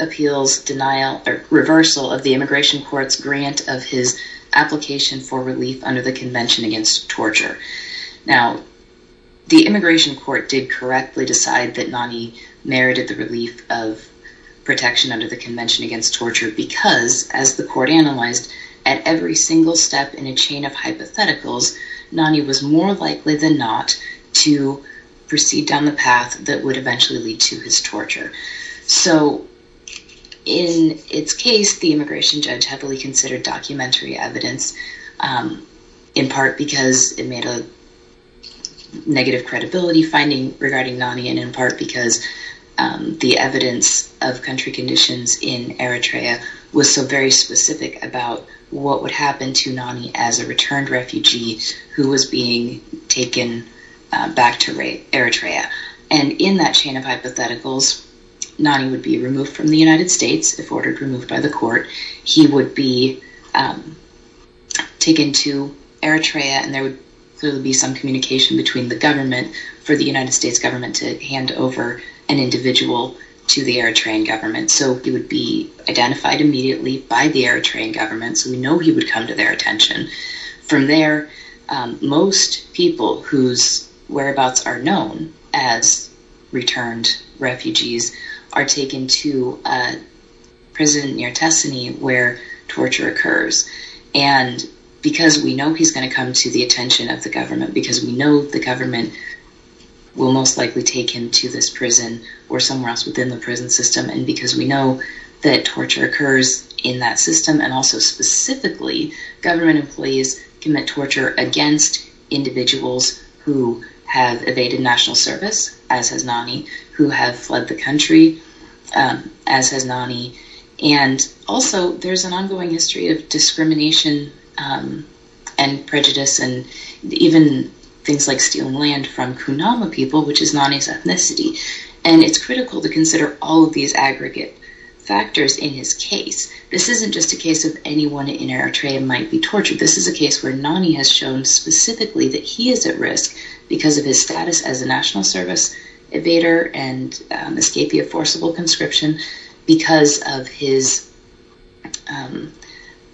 appeals denial or reversal of the immigration court's grant of his application for relief under the Convention Against Torture. Now the immigration court did correctly decide that Nani merited the relief of protection under the Convention Against Torture because, as the court analyzed, at every single step in a chain of hypotheticals Nani was more likely than not to proceed down the path that would eventually lead to his torture. So in its case, the immigration judge heavily considered documentary evidence in part because it made a negative credibility finding regarding Nani and in part because the evidence of country conditions in Eritrea was so very specific about what would happen to Nani as a returned refugee who was being taken back to Eritrea. And in that chain of hypotheticals Nani would be removed from the United States if ordered removed by the court. He would be taken to Eritrea and there would clearly be some communication between the government for the United States government to hand over an individual to the Eritrean government. So he would be identified immediately by the Eritrean government. So we know he would come to their attention. From there, most people whose whereabouts are known as Nani would be taken to a prison near Tessini where torture occurs. And because we know he's going to come to the attention of the government, because we know the government will most likely take him to this prison or somewhere else within the prison system, and because we know that torture occurs in that system and also specifically government employees commit torture against individuals who have evaded national service, as has Nani, who have fled the country. As has Nani. And also, there's an ongoing history of discrimination and prejudice and even things like stealing land from Kunama people, which is Nani's ethnicity. And it's critical to consider all of these aggregate factors in his case. This isn't just a case of anyone in Eritrea might be tortured. This is a case where Nani has shown specifically that he is at risk because of his status as a national service evader and miscapia forcible conscription because of his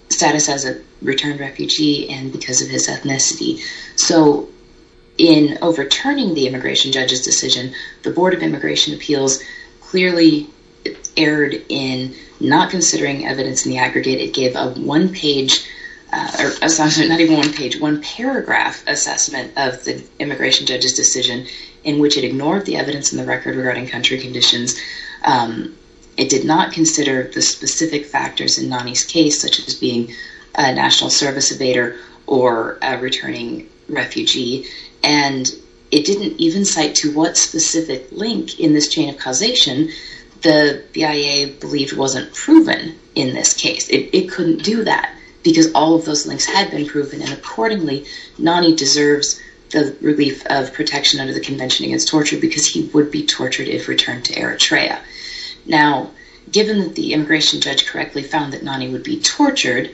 status as a returned refugee and because of his ethnicity. So in overturning the immigration judge's decision, the Board of Immigration Appeals clearly erred in not considering evidence in the aggregate. It gave a one-page, not even one page, one paragraph assessment of the immigration judge's decision in which it ignored the evidence in the record regarding country conditions. It did not consider the specific factors in Nani's case, such as being a national service evader or returning refugee. And it didn't even cite to what specific link in this chain of causation the BIA believed wasn't proven in this case. It couldn't do that because all of those links had been proven and accordingly Nani deserves the relief of protection under the Convention Against Torture because he would be tortured if returned to Eritrea. Now given that the immigration judge correctly found that Nani would be tortured,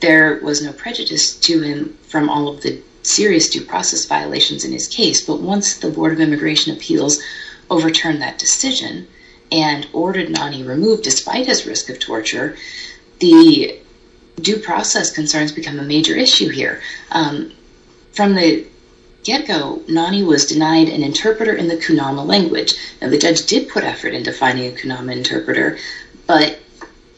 there was no prejudice to him from all of the serious due process violations in his case. But once the Board of Immigration Appeals overturned that decision and due process concerns become a major issue here. From the get-go, Nani was denied an interpreter in the Kunama language. Now the judge did put effort into finding a Kunama interpreter, but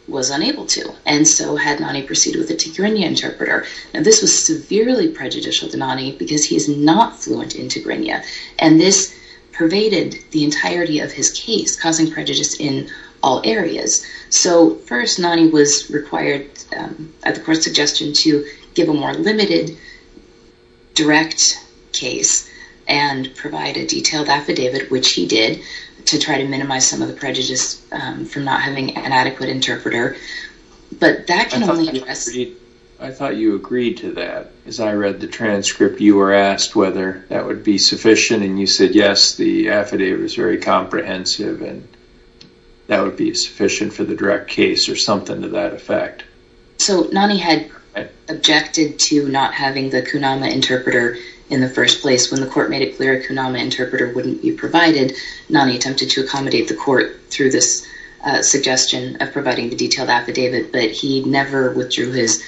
was unable to and so had Nani proceed with a Tigrinya interpreter. Now this was severely prejudicial to Nani because he is not fluent in Tigrinya and this pervaded the entirety of his case causing prejudice in all areas. So first Nani was required at the court's suggestion to give a more limited direct case and provide a detailed affidavit, which he did to try to minimize some of the prejudice from not having an adequate interpreter. But that can only address... I thought you agreed to that. As I read the transcript you were asked whether that would be sufficient and you said yes, the affidavit was very comprehensive and that would be sufficient for the direct case or something to that effect. So Nani had objected to not having the Kunama interpreter in the first place. When the court made it clear a Kunama interpreter wouldn't be provided, Nani attempted to accommodate the court through this suggestion of providing the detailed affidavit, but he never withdrew his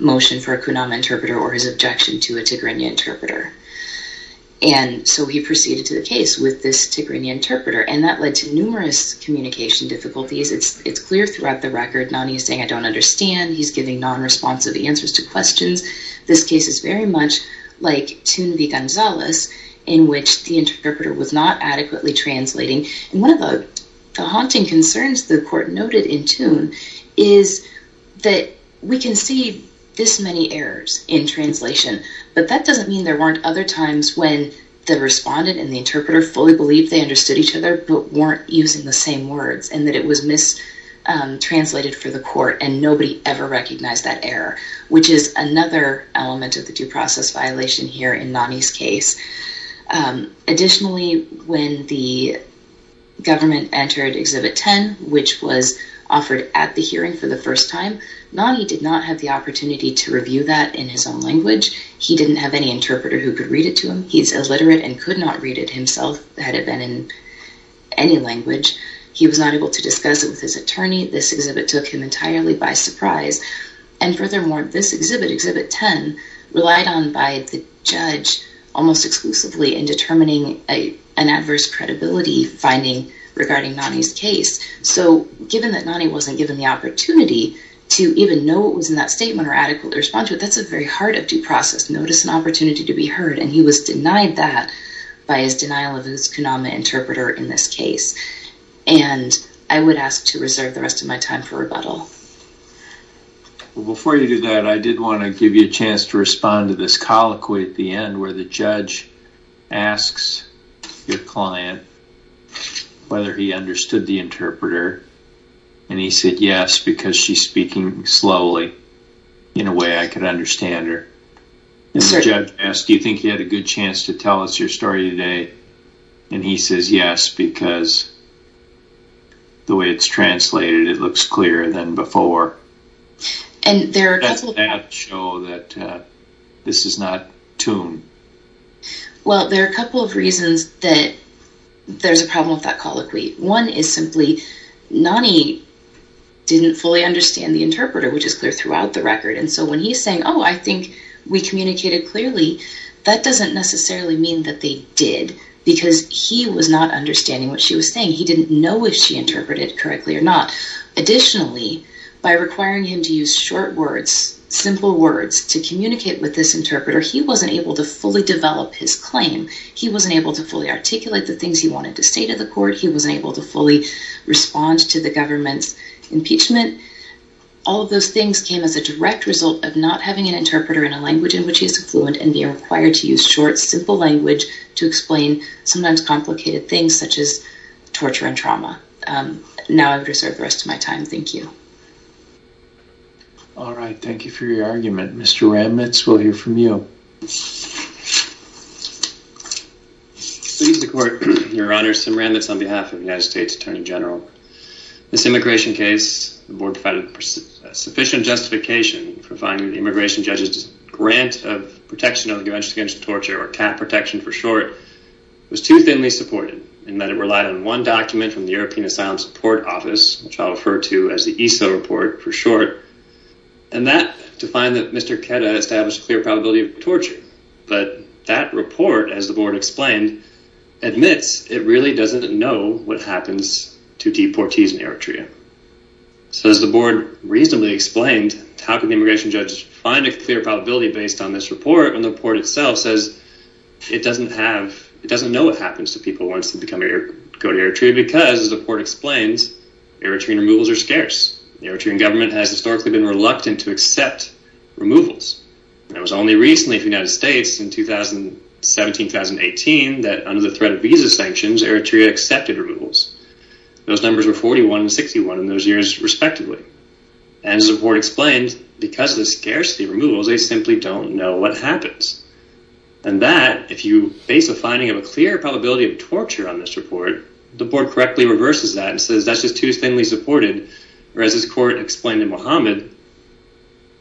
motion for a Kunama interpreter or his objection to a Tigrinya interpreter. And so he proceeded to the case with this Tigrinya interpreter and that led to numerous communication difficulties. It's clear throughout the record. Nani is saying I don't understand. He's giving non-responsive answers to questions. This case is very much like Thun v. Gonzales in which the interpreter was not adequately translating and one of the haunting concerns the court noted in Thun is that we can see this many errors in translation, but that doesn't mean there weren't other times when the respondent and the interpreter fully believed they understood each other, but weren't using the same words and that it was mistranslated for the court and nobody ever recognized that error, which is another element of the due process violation here in Nani's case. Additionally when the government entered Exhibit 10, which was offered at the hearing for the first time, Nani did not have the opportunity to review that in his own language. He didn't have any interpreter who could read it to him. He's illiterate and could not read it himself had it been in any language. He was not able to discuss it with his attorney. This exhibit took him entirely by surprise and furthermore this exhibit, Exhibit 10, relied on by the judge almost exclusively in determining an adverse credibility finding regarding Nani's case. So given that Nani wasn't given the opportunity to even know what was in that statement or adequately respond to it, that's a very hard of due process. Notice an opportunity to be heard and he was denied that by his denial of his Konama interpreter in this case and I would ask to reserve the rest of my time for rebuttal. Before you do that, I did want to give you a chance to respond to this colloquy at the end where the judge asks your client whether he understood the interpreter and he said yes, because she's speaking slowly in a way I could understand her. The judge asked, do you think you had a good chance to tell us your story today? And he says yes, because the way it's translated it looks clearer than before. And there are a couple of... Does that show that this is not tuned? Well, there are a couple of reasons that there's a problem with that colloquy. One is simply Nani didn't fully understand the interpreter, which is clear throughout the record. And so when he's saying, oh, I think we communicated clearly, that doesn't necessarily mean that they did because he was not understanding what she was saying. He didn't know if she interpreted correctly or not. Additionally, by requiring him to use short words, simple words to communicate with this interpreter, he wasn't able to fully develop his claim. He wasn't able to fully articulate the things he wanted to say to the court. He wasn't able to fully respond to the government's impeachment. All of those things came as a direct result of not having an interpreter in a language in which he is fluent and being required to use short, simple language to explain sometimes complicated things such as torture and trauma. Now I would reserve the rest of my time. Thank you. All right, thank you for your argument. Mr. Ramitz, we'll hear from you. Your Honor, Sam Ramitz on behalf of the United States Attorney General. This immigration case, the board provided sufficient justification for finding the immigration judge's grant of protection of the Convention Against Torture, or CAP protection for short, was too thinly supported in that it relied on one document from the European Asylum Support Office, which I'll refer to as the ESO report for short, and to find that Mr. Kedda established a clear probability of torture. But that report, as the board explained, admits it really doesn't know what happens to deportees in Eritrea. So as the board reasonably explained, how can the immigration judge find a clear probability based on this report? And the report itself says it doesn't know what happens to people who want to go to Eritrea because, as the report explains, Eritrean removals are scarce. The Eritrean government has historically been reluctant to accept removals. It was only recently for the United States in 2017-2018 that, under the threat of visa sanctions, Eritrea accepted removals. Those numbers were 41 and 61 in those years, respectively. And as the report explained, because of the scarcity of removals, they simply don't know what happens. And that, if you base a finding of a clear probability of torture on this report, the board correctly reverses that and says that's just too thinly supported. Whereas, as the court explained in Muhammad,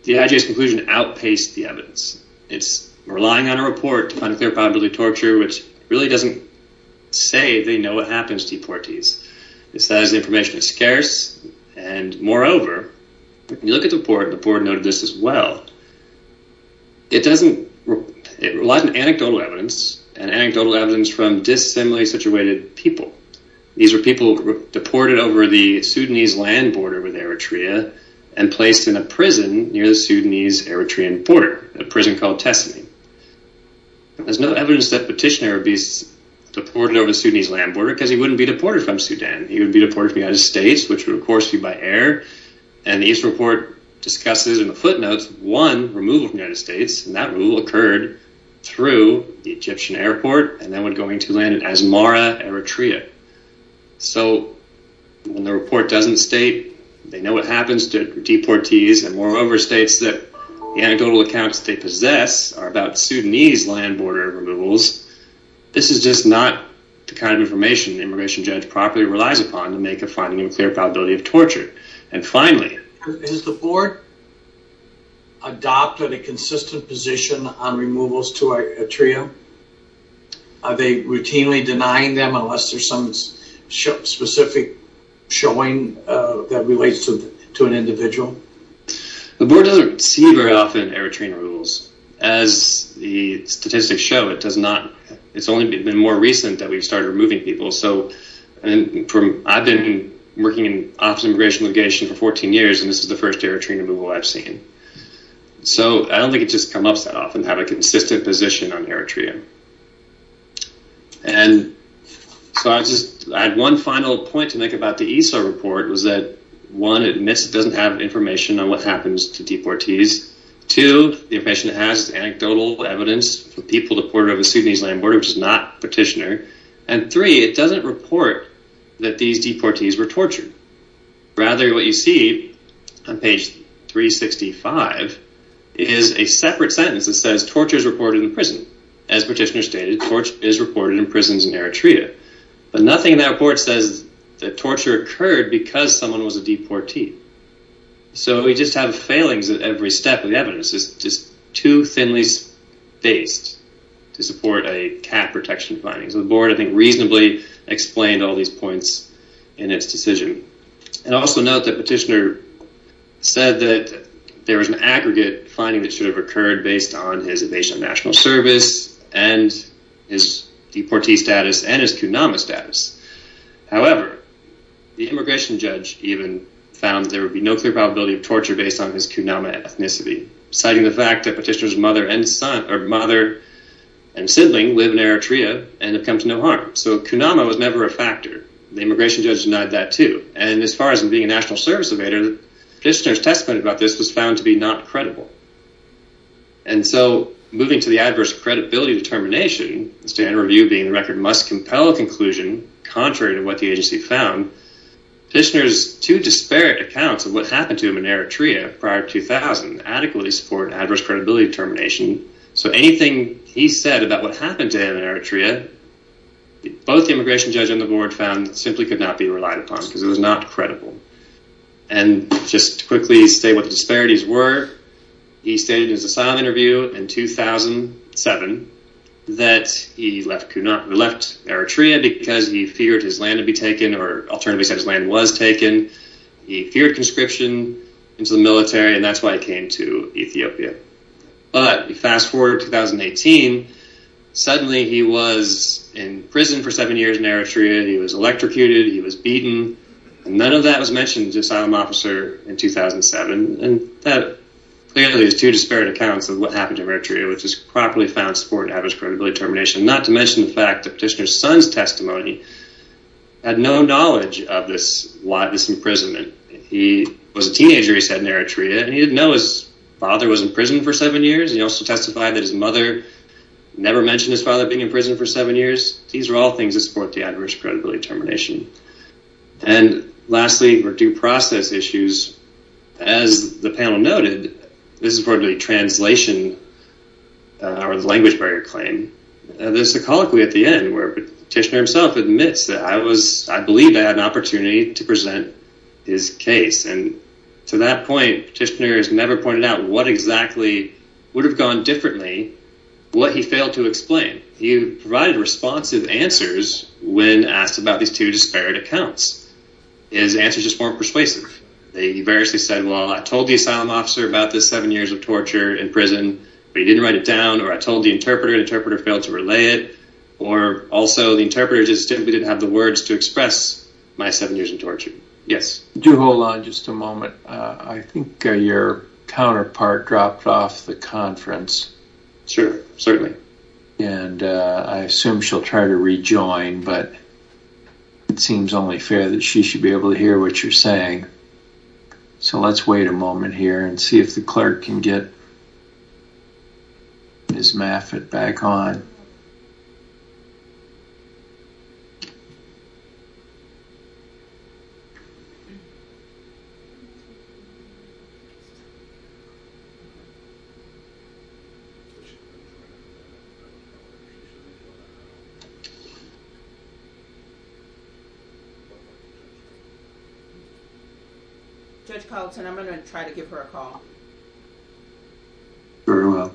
the IJS conclusion outpaced the evidence. It's relying on a report on clear probability of torture, which really doesn't say they know what happens to deportees. It says the information is scarce, and moreover, when you look at the report, the board noted this as well. It relies on anecdotal evidence, and anecdotal evidence from dissimilarly situated people. These were people deported over the Sudanese land border with Eritrea and placed in a prison near the Sudanese-Eritrean border, a prison called Tesimi. There's no evidence that Petitioner would be deported over the Sudanese land border because he wouldn't be deported from Sudan. He would be deported from the United States, which would of course be by air. And the East report discusses in the footnotes one removal from the United States, and that removal occurred through the Egyptian airport, and that one going to land in Asmara, Eritrea. So, when the report doesn't state they know what happens to deportees, and moreover, states that the anecdotal accounts they possess are about Sudanese land border removals, this is just not the kind of information the immigration judge properly relies upon to make a finding of a clear probability of torture. And finally, has the board adopted a consistent position on removals to Eritrea? Are they routinely denying them unless there's some specific showing that relates to an individual? The board doesn't see very often Eritrean removals. As the statistics show, it's only been more recent that we've started removing people. I've been working in office immigration litigation for 14 years, and this is the first Eritrean removal I've seen. So, I don't think it just comes up that often to have a consistent position on Eritrea. And so, I just had one final point to make about the ESA report, was that one, it admits it doesn't have information on what happens to deportees. Two, the information it has is anecdotal evidence for people deported over Sudanese land border, which is not petitioner. And three, it doesn't report that these deportees were tortured. Rather, what you see on page 365 is a separate sentence that says, torture is reported in prison. As petitioner stated, torture is reported in prisons in Eritrea. But nothing in that report says that torture occurred because someone was a deportee. So, we just have failings at every step of the evidence. It's just too thinly spaced to support a cap protection findings. The board, I think, reasonably explained all these points in its decision. And also note that petitioner said that there was an aggregate finding that should have occurred based on his evasion of national service and his deportee status and his kunama status. However, the immigration judge even found there would be no clear probability of torture based on his kunama ethnicity, citing the fact that petitioner's mother and son or mother and sibling live in Eritrea and have come to no harm. So, kunama was never a factor. The immigration judge denied that too. And as far as him being a national service evader, petitioner's testament about this was found to be not credible. And so, moving to the adverse credibility determination, the standard review being the record must compel a conclusion contrary to what the agency found, petitioner's two disparate accounts of what happened to him in Eritrea prior to 2000 adequately support adverse credibility determination. So, anything he said about what happened to him in Eritrea, both the immigration judge and the board found simply could not be relied upon because it was not credible. And just quickly state what the disparities were. He stated in his asylum interview in 2007 that he left Eritrea because he feared his land would be taken or alternatively said his land was taken. He feared conscription into the military and that's why he came to Ethiopia. But if you fast forward to 2018, suddenly he was in prison for seven years in Eritrea. He was electrocuted. He was beaten. None of that was mentioned in his asylum officer in 2007. And that clearly is two disparate accounts of what happened to him in Eritrea, which is properly found to support adverse credibility determination, not to mention the fact that petitioner's son's testimony had no knowledge of this imprisonment. He was a teenager, he said, in Eritrea and he didn't know his father was in prison for seven years. He also testified that his mother never mentioned his father being in prison for seven years. These are all things that support the adverse credibility determination. And lastly, for due process issues, as the panel noted, this is for the translation or the language barrier claim. There's a colloquy at the end where petitioner himself admits that I was, I believe I had an opportunity to present his case. And to that point, petitioner has never pointed out what exactly would have gone differently, what he failed to explain. He provided responsive answers when asked about these two disparate accounts. His answers just weren't persuasive. They variously said, well, I told the asylum officer about the seven years of torture in prison, but he didn't write it down, or I told the interpreter, the interpreter failed to relay it, or also the interpreter just simply didn't have the words to express my seven years of torture. Yes. Do hold on just a moment. I think your counterpart dropped off the conference. Sure, certainly. And I assume she'll try to rejoin, but it seems only fair that she should be able to hear what you're saying. So let's wait a moment here and see if the clerk can get Ms. Maffitt back on. Judge Palatine, I'm going to try to give her a call. Very well.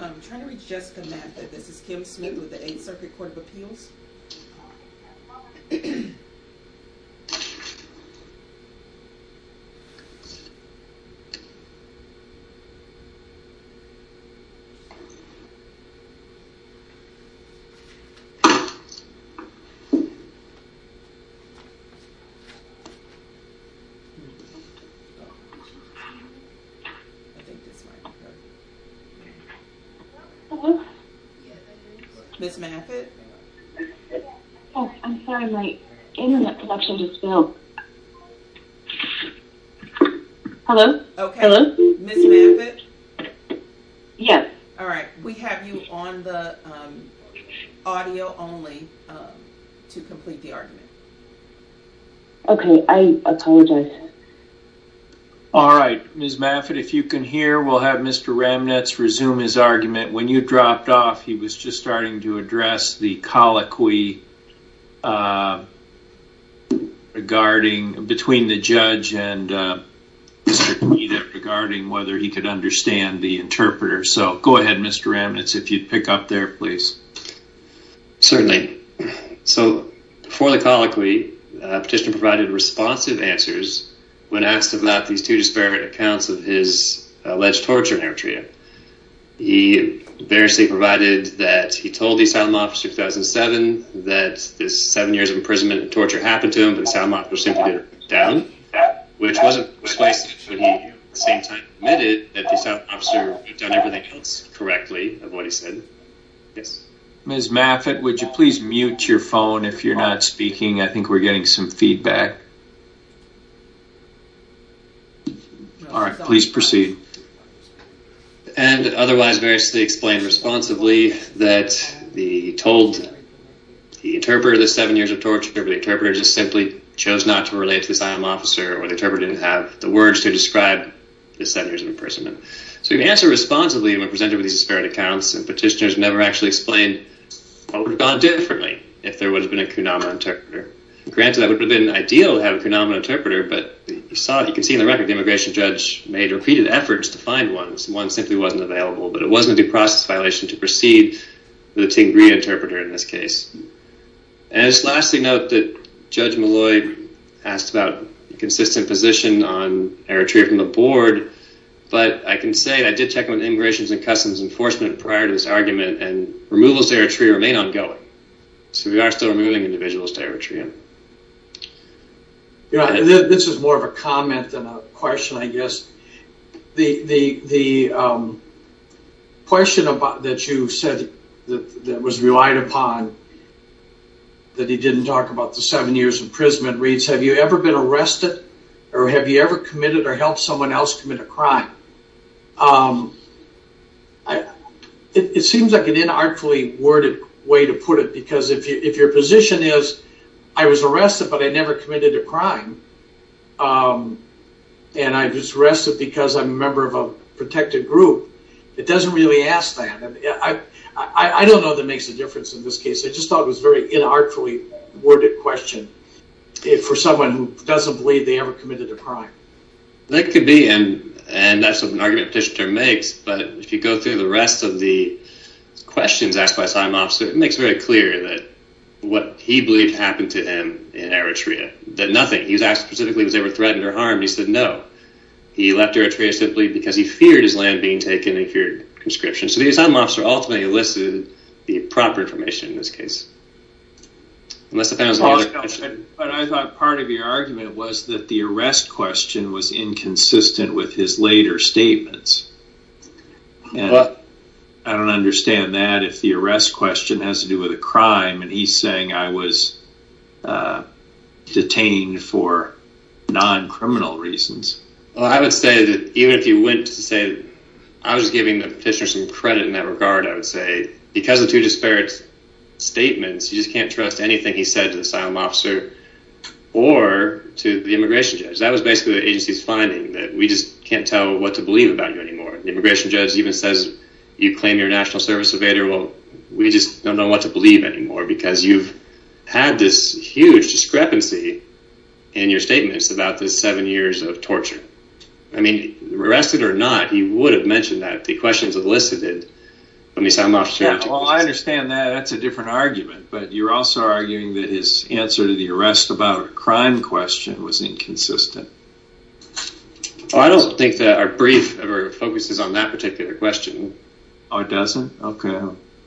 I'm trying to reach Jessica Maffitt. This is Kim Smith with the Eighth Circuit Court of Appeals. Hello? Ms. Maffitt? Oh, I'm sorry, my internet connection just fell. Hello? Hello? Ms. Maffitt? Yes. Alright, we have you on the audio only to complete the argument. Okay, I apologize. Alright, Ms. Maffitt, if you can hear, we'll have Mr. Ramnitz resume his argument. When you dropped off, he was just starting to address the colloquy between the judge and Mr. Deedat regarding whether he could understand the interpreter. So, go ahead, Mr. Ramnitz, if you'd pick up there, please. Certainly. So, for the colloquy, Petitioner provided responsive answers when asked about these two disparate accounts of his alleged torture in Eritrea. He variously provided that he told the asylum officer in 2007 that the seven years of imprisonment and torture happened to him, but the asylum officer simply did it down, which wasn't explicit, but he at the same time admitted that the asylum officer had done everything else correctly of what he said. Ms. Maffitt, would you please mute your phone if you're not speaking? I think we're getting some feedback. All right, please proceed. And otherwise, variously explained responsibly that he told the interpreter the seven years of torture, but the interpreter just simply chose not to relate to the asylum officer, or the interpreter didn't have the words to describe the seven years of imprisonment. So, he answered responsibly when presented with these disparate accounts, and Petitioner has never actually explained what would have gone differently if there would have been a kunama interpreter. Granted, that would have been ideal to have a kunama interpreter, but you can see in the record the immigration judge made repeated efforts to find one. One simply wasn't available, but it wasn't a due process violation to proceed with the Tingria interpreter in this case. And just lastly note that Judge Malloy asked about a consistent position on Eritrea from the board, but I can say I did check with Immigrations and Customs Enforcement prior to this argument, and removals to Eritrea remain ongoing. So, we are still removing individuals to Eritrea. This is more of a comment than a question, I guess. The question that you said that was relied upon, that he didn't talk about the seven years imprisonment, reads, have you ever been arrested, or have you ever committed or helped someone else commit a crime? It seems like an inartfully worded way to put it, because if your position is, I was arrested, but I never committed a crime, and I was arrested because I'm a member of a protected group, it doesn't really ask that. I don't know that makes a difference in this case. I just thought it was a very inartfully worded question for someone who doesn't believe they ever committed a crime. That could be, and that's an argument Petitioner makes, but if you go through the rest of the questions asked by Assigned Officer, it makes very clear that what he believed happened to him in Eritrea, that nothing, he was asked specifically if he was ever threatened or harmed, he said no. He left Eritrea simply because he feared his land being taken, and he feared conscription. So, the Assigned Officer ultimately elicited the proper information in this case. But I thought part of your argument was that the arrest question was inconsistent with his later statements. I don't understand that if the arrest question has to do with a crime, and he's saying I was detained for non-criminal reasons. Well, I would say that even if you went to say, I was giving the Petitioner some credit in that regard, I would say, because of two disparate statements, you just can't trust anything he said to the Assigned Officer or to the Immigration Judge. That was basically the agency's finding, that we just can't tell what to believe about you anymore. The Immigration Judge even says you claim you're a National Service Surveyor. Well, we just don't know what to believe anymore because you've had this huge discrepancy in your statements about the seven years of torture. I mean, arrested or not, he would have mentioned that. Well, I understand that. That's a different argument. But you're also arguing that his answer to the arrest about a crime question was inconsistent. Well, I don't think that our brief ever focuses on that particular question. Oh, it doesn't? Okay.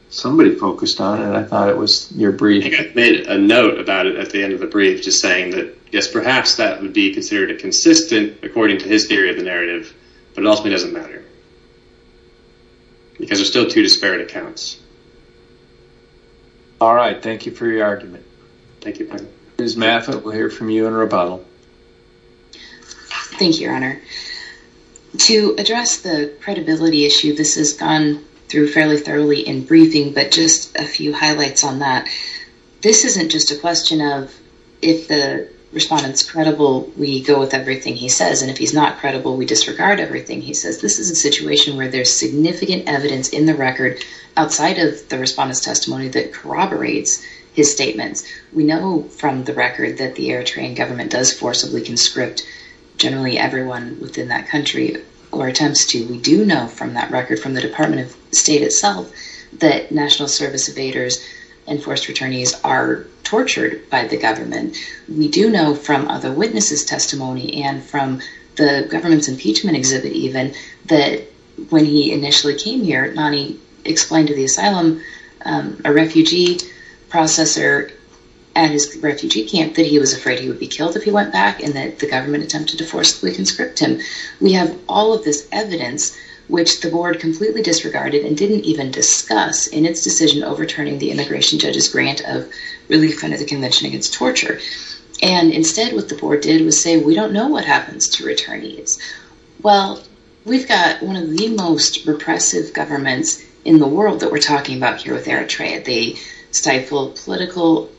Somebody focused on it. I thought it was your brief. I think I made a note about it at the end of the brief, just saying that, yes, perhaps that would be considered a consistent, according to his theory of the narrative, but it ultimately doesn't matter because there are still two disparate accounts. All right. Thank you for your argument. Thank you. Ms. Maffa, we'll hear from you in rebuttal. Thank you, Your Honor. To address the credibility issue, this has gone through fairly thoroughly in briefing, but just a few highlights on that. This isn't just a question of if the respondent's credible, we go with everything he says, and if he's not credible, we disregard everything he says. This is a situation where there's significant evidence in the record outside of the respondent's testimony that corroborates his statements. We know from the record that the Air Train government does forcibly conscript generally everyone within that country or attempts to. We do know from that record from the Department of State itself that National Service evaders and forced returnees are tortured by the government. We do know from other witnesses' testimony and from the government's impeachment exhibit even that when he initially came here, Nani explained to the asylum, a refugee processor at his refugee camp, that he was afraid he would be killed if he went back and that the government attempted to forcibly conscript him. We have all of this evidence which the board completely disregarded and didn't even discuss in its decision overturning the immigration judge's grant of relief under the Convention Against Torture. Instead, what the board did was say, we don't know what happens to returnees. Well, we've got one of the most repressive governments in the world that we're talking about here with Air Train. They stifle political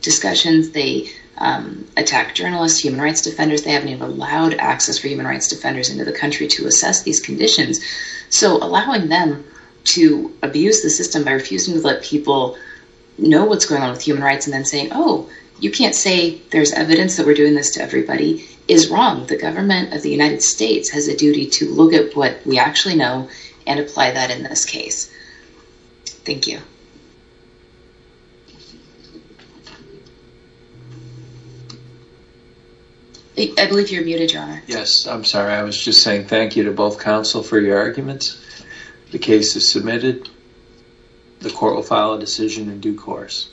discussions. They attack journalists, human rights defenders. They haven't even allowed access for human rights defenders into the country to assess these conditions. So allowing them to abuse the system by refusing to let people know what's going on with human rights and then saying, oh, you can't say there's evidence that we're doing this to everybody is wrong. The government of the United States has a duty to look at what we actually know and apply that in this case. Thank you. I believe you're muted, Your Honor. Yes, I'm sorry. I was just saying thank you to both counsel for your arguments. The case is submitted. The court will file a decision in due course.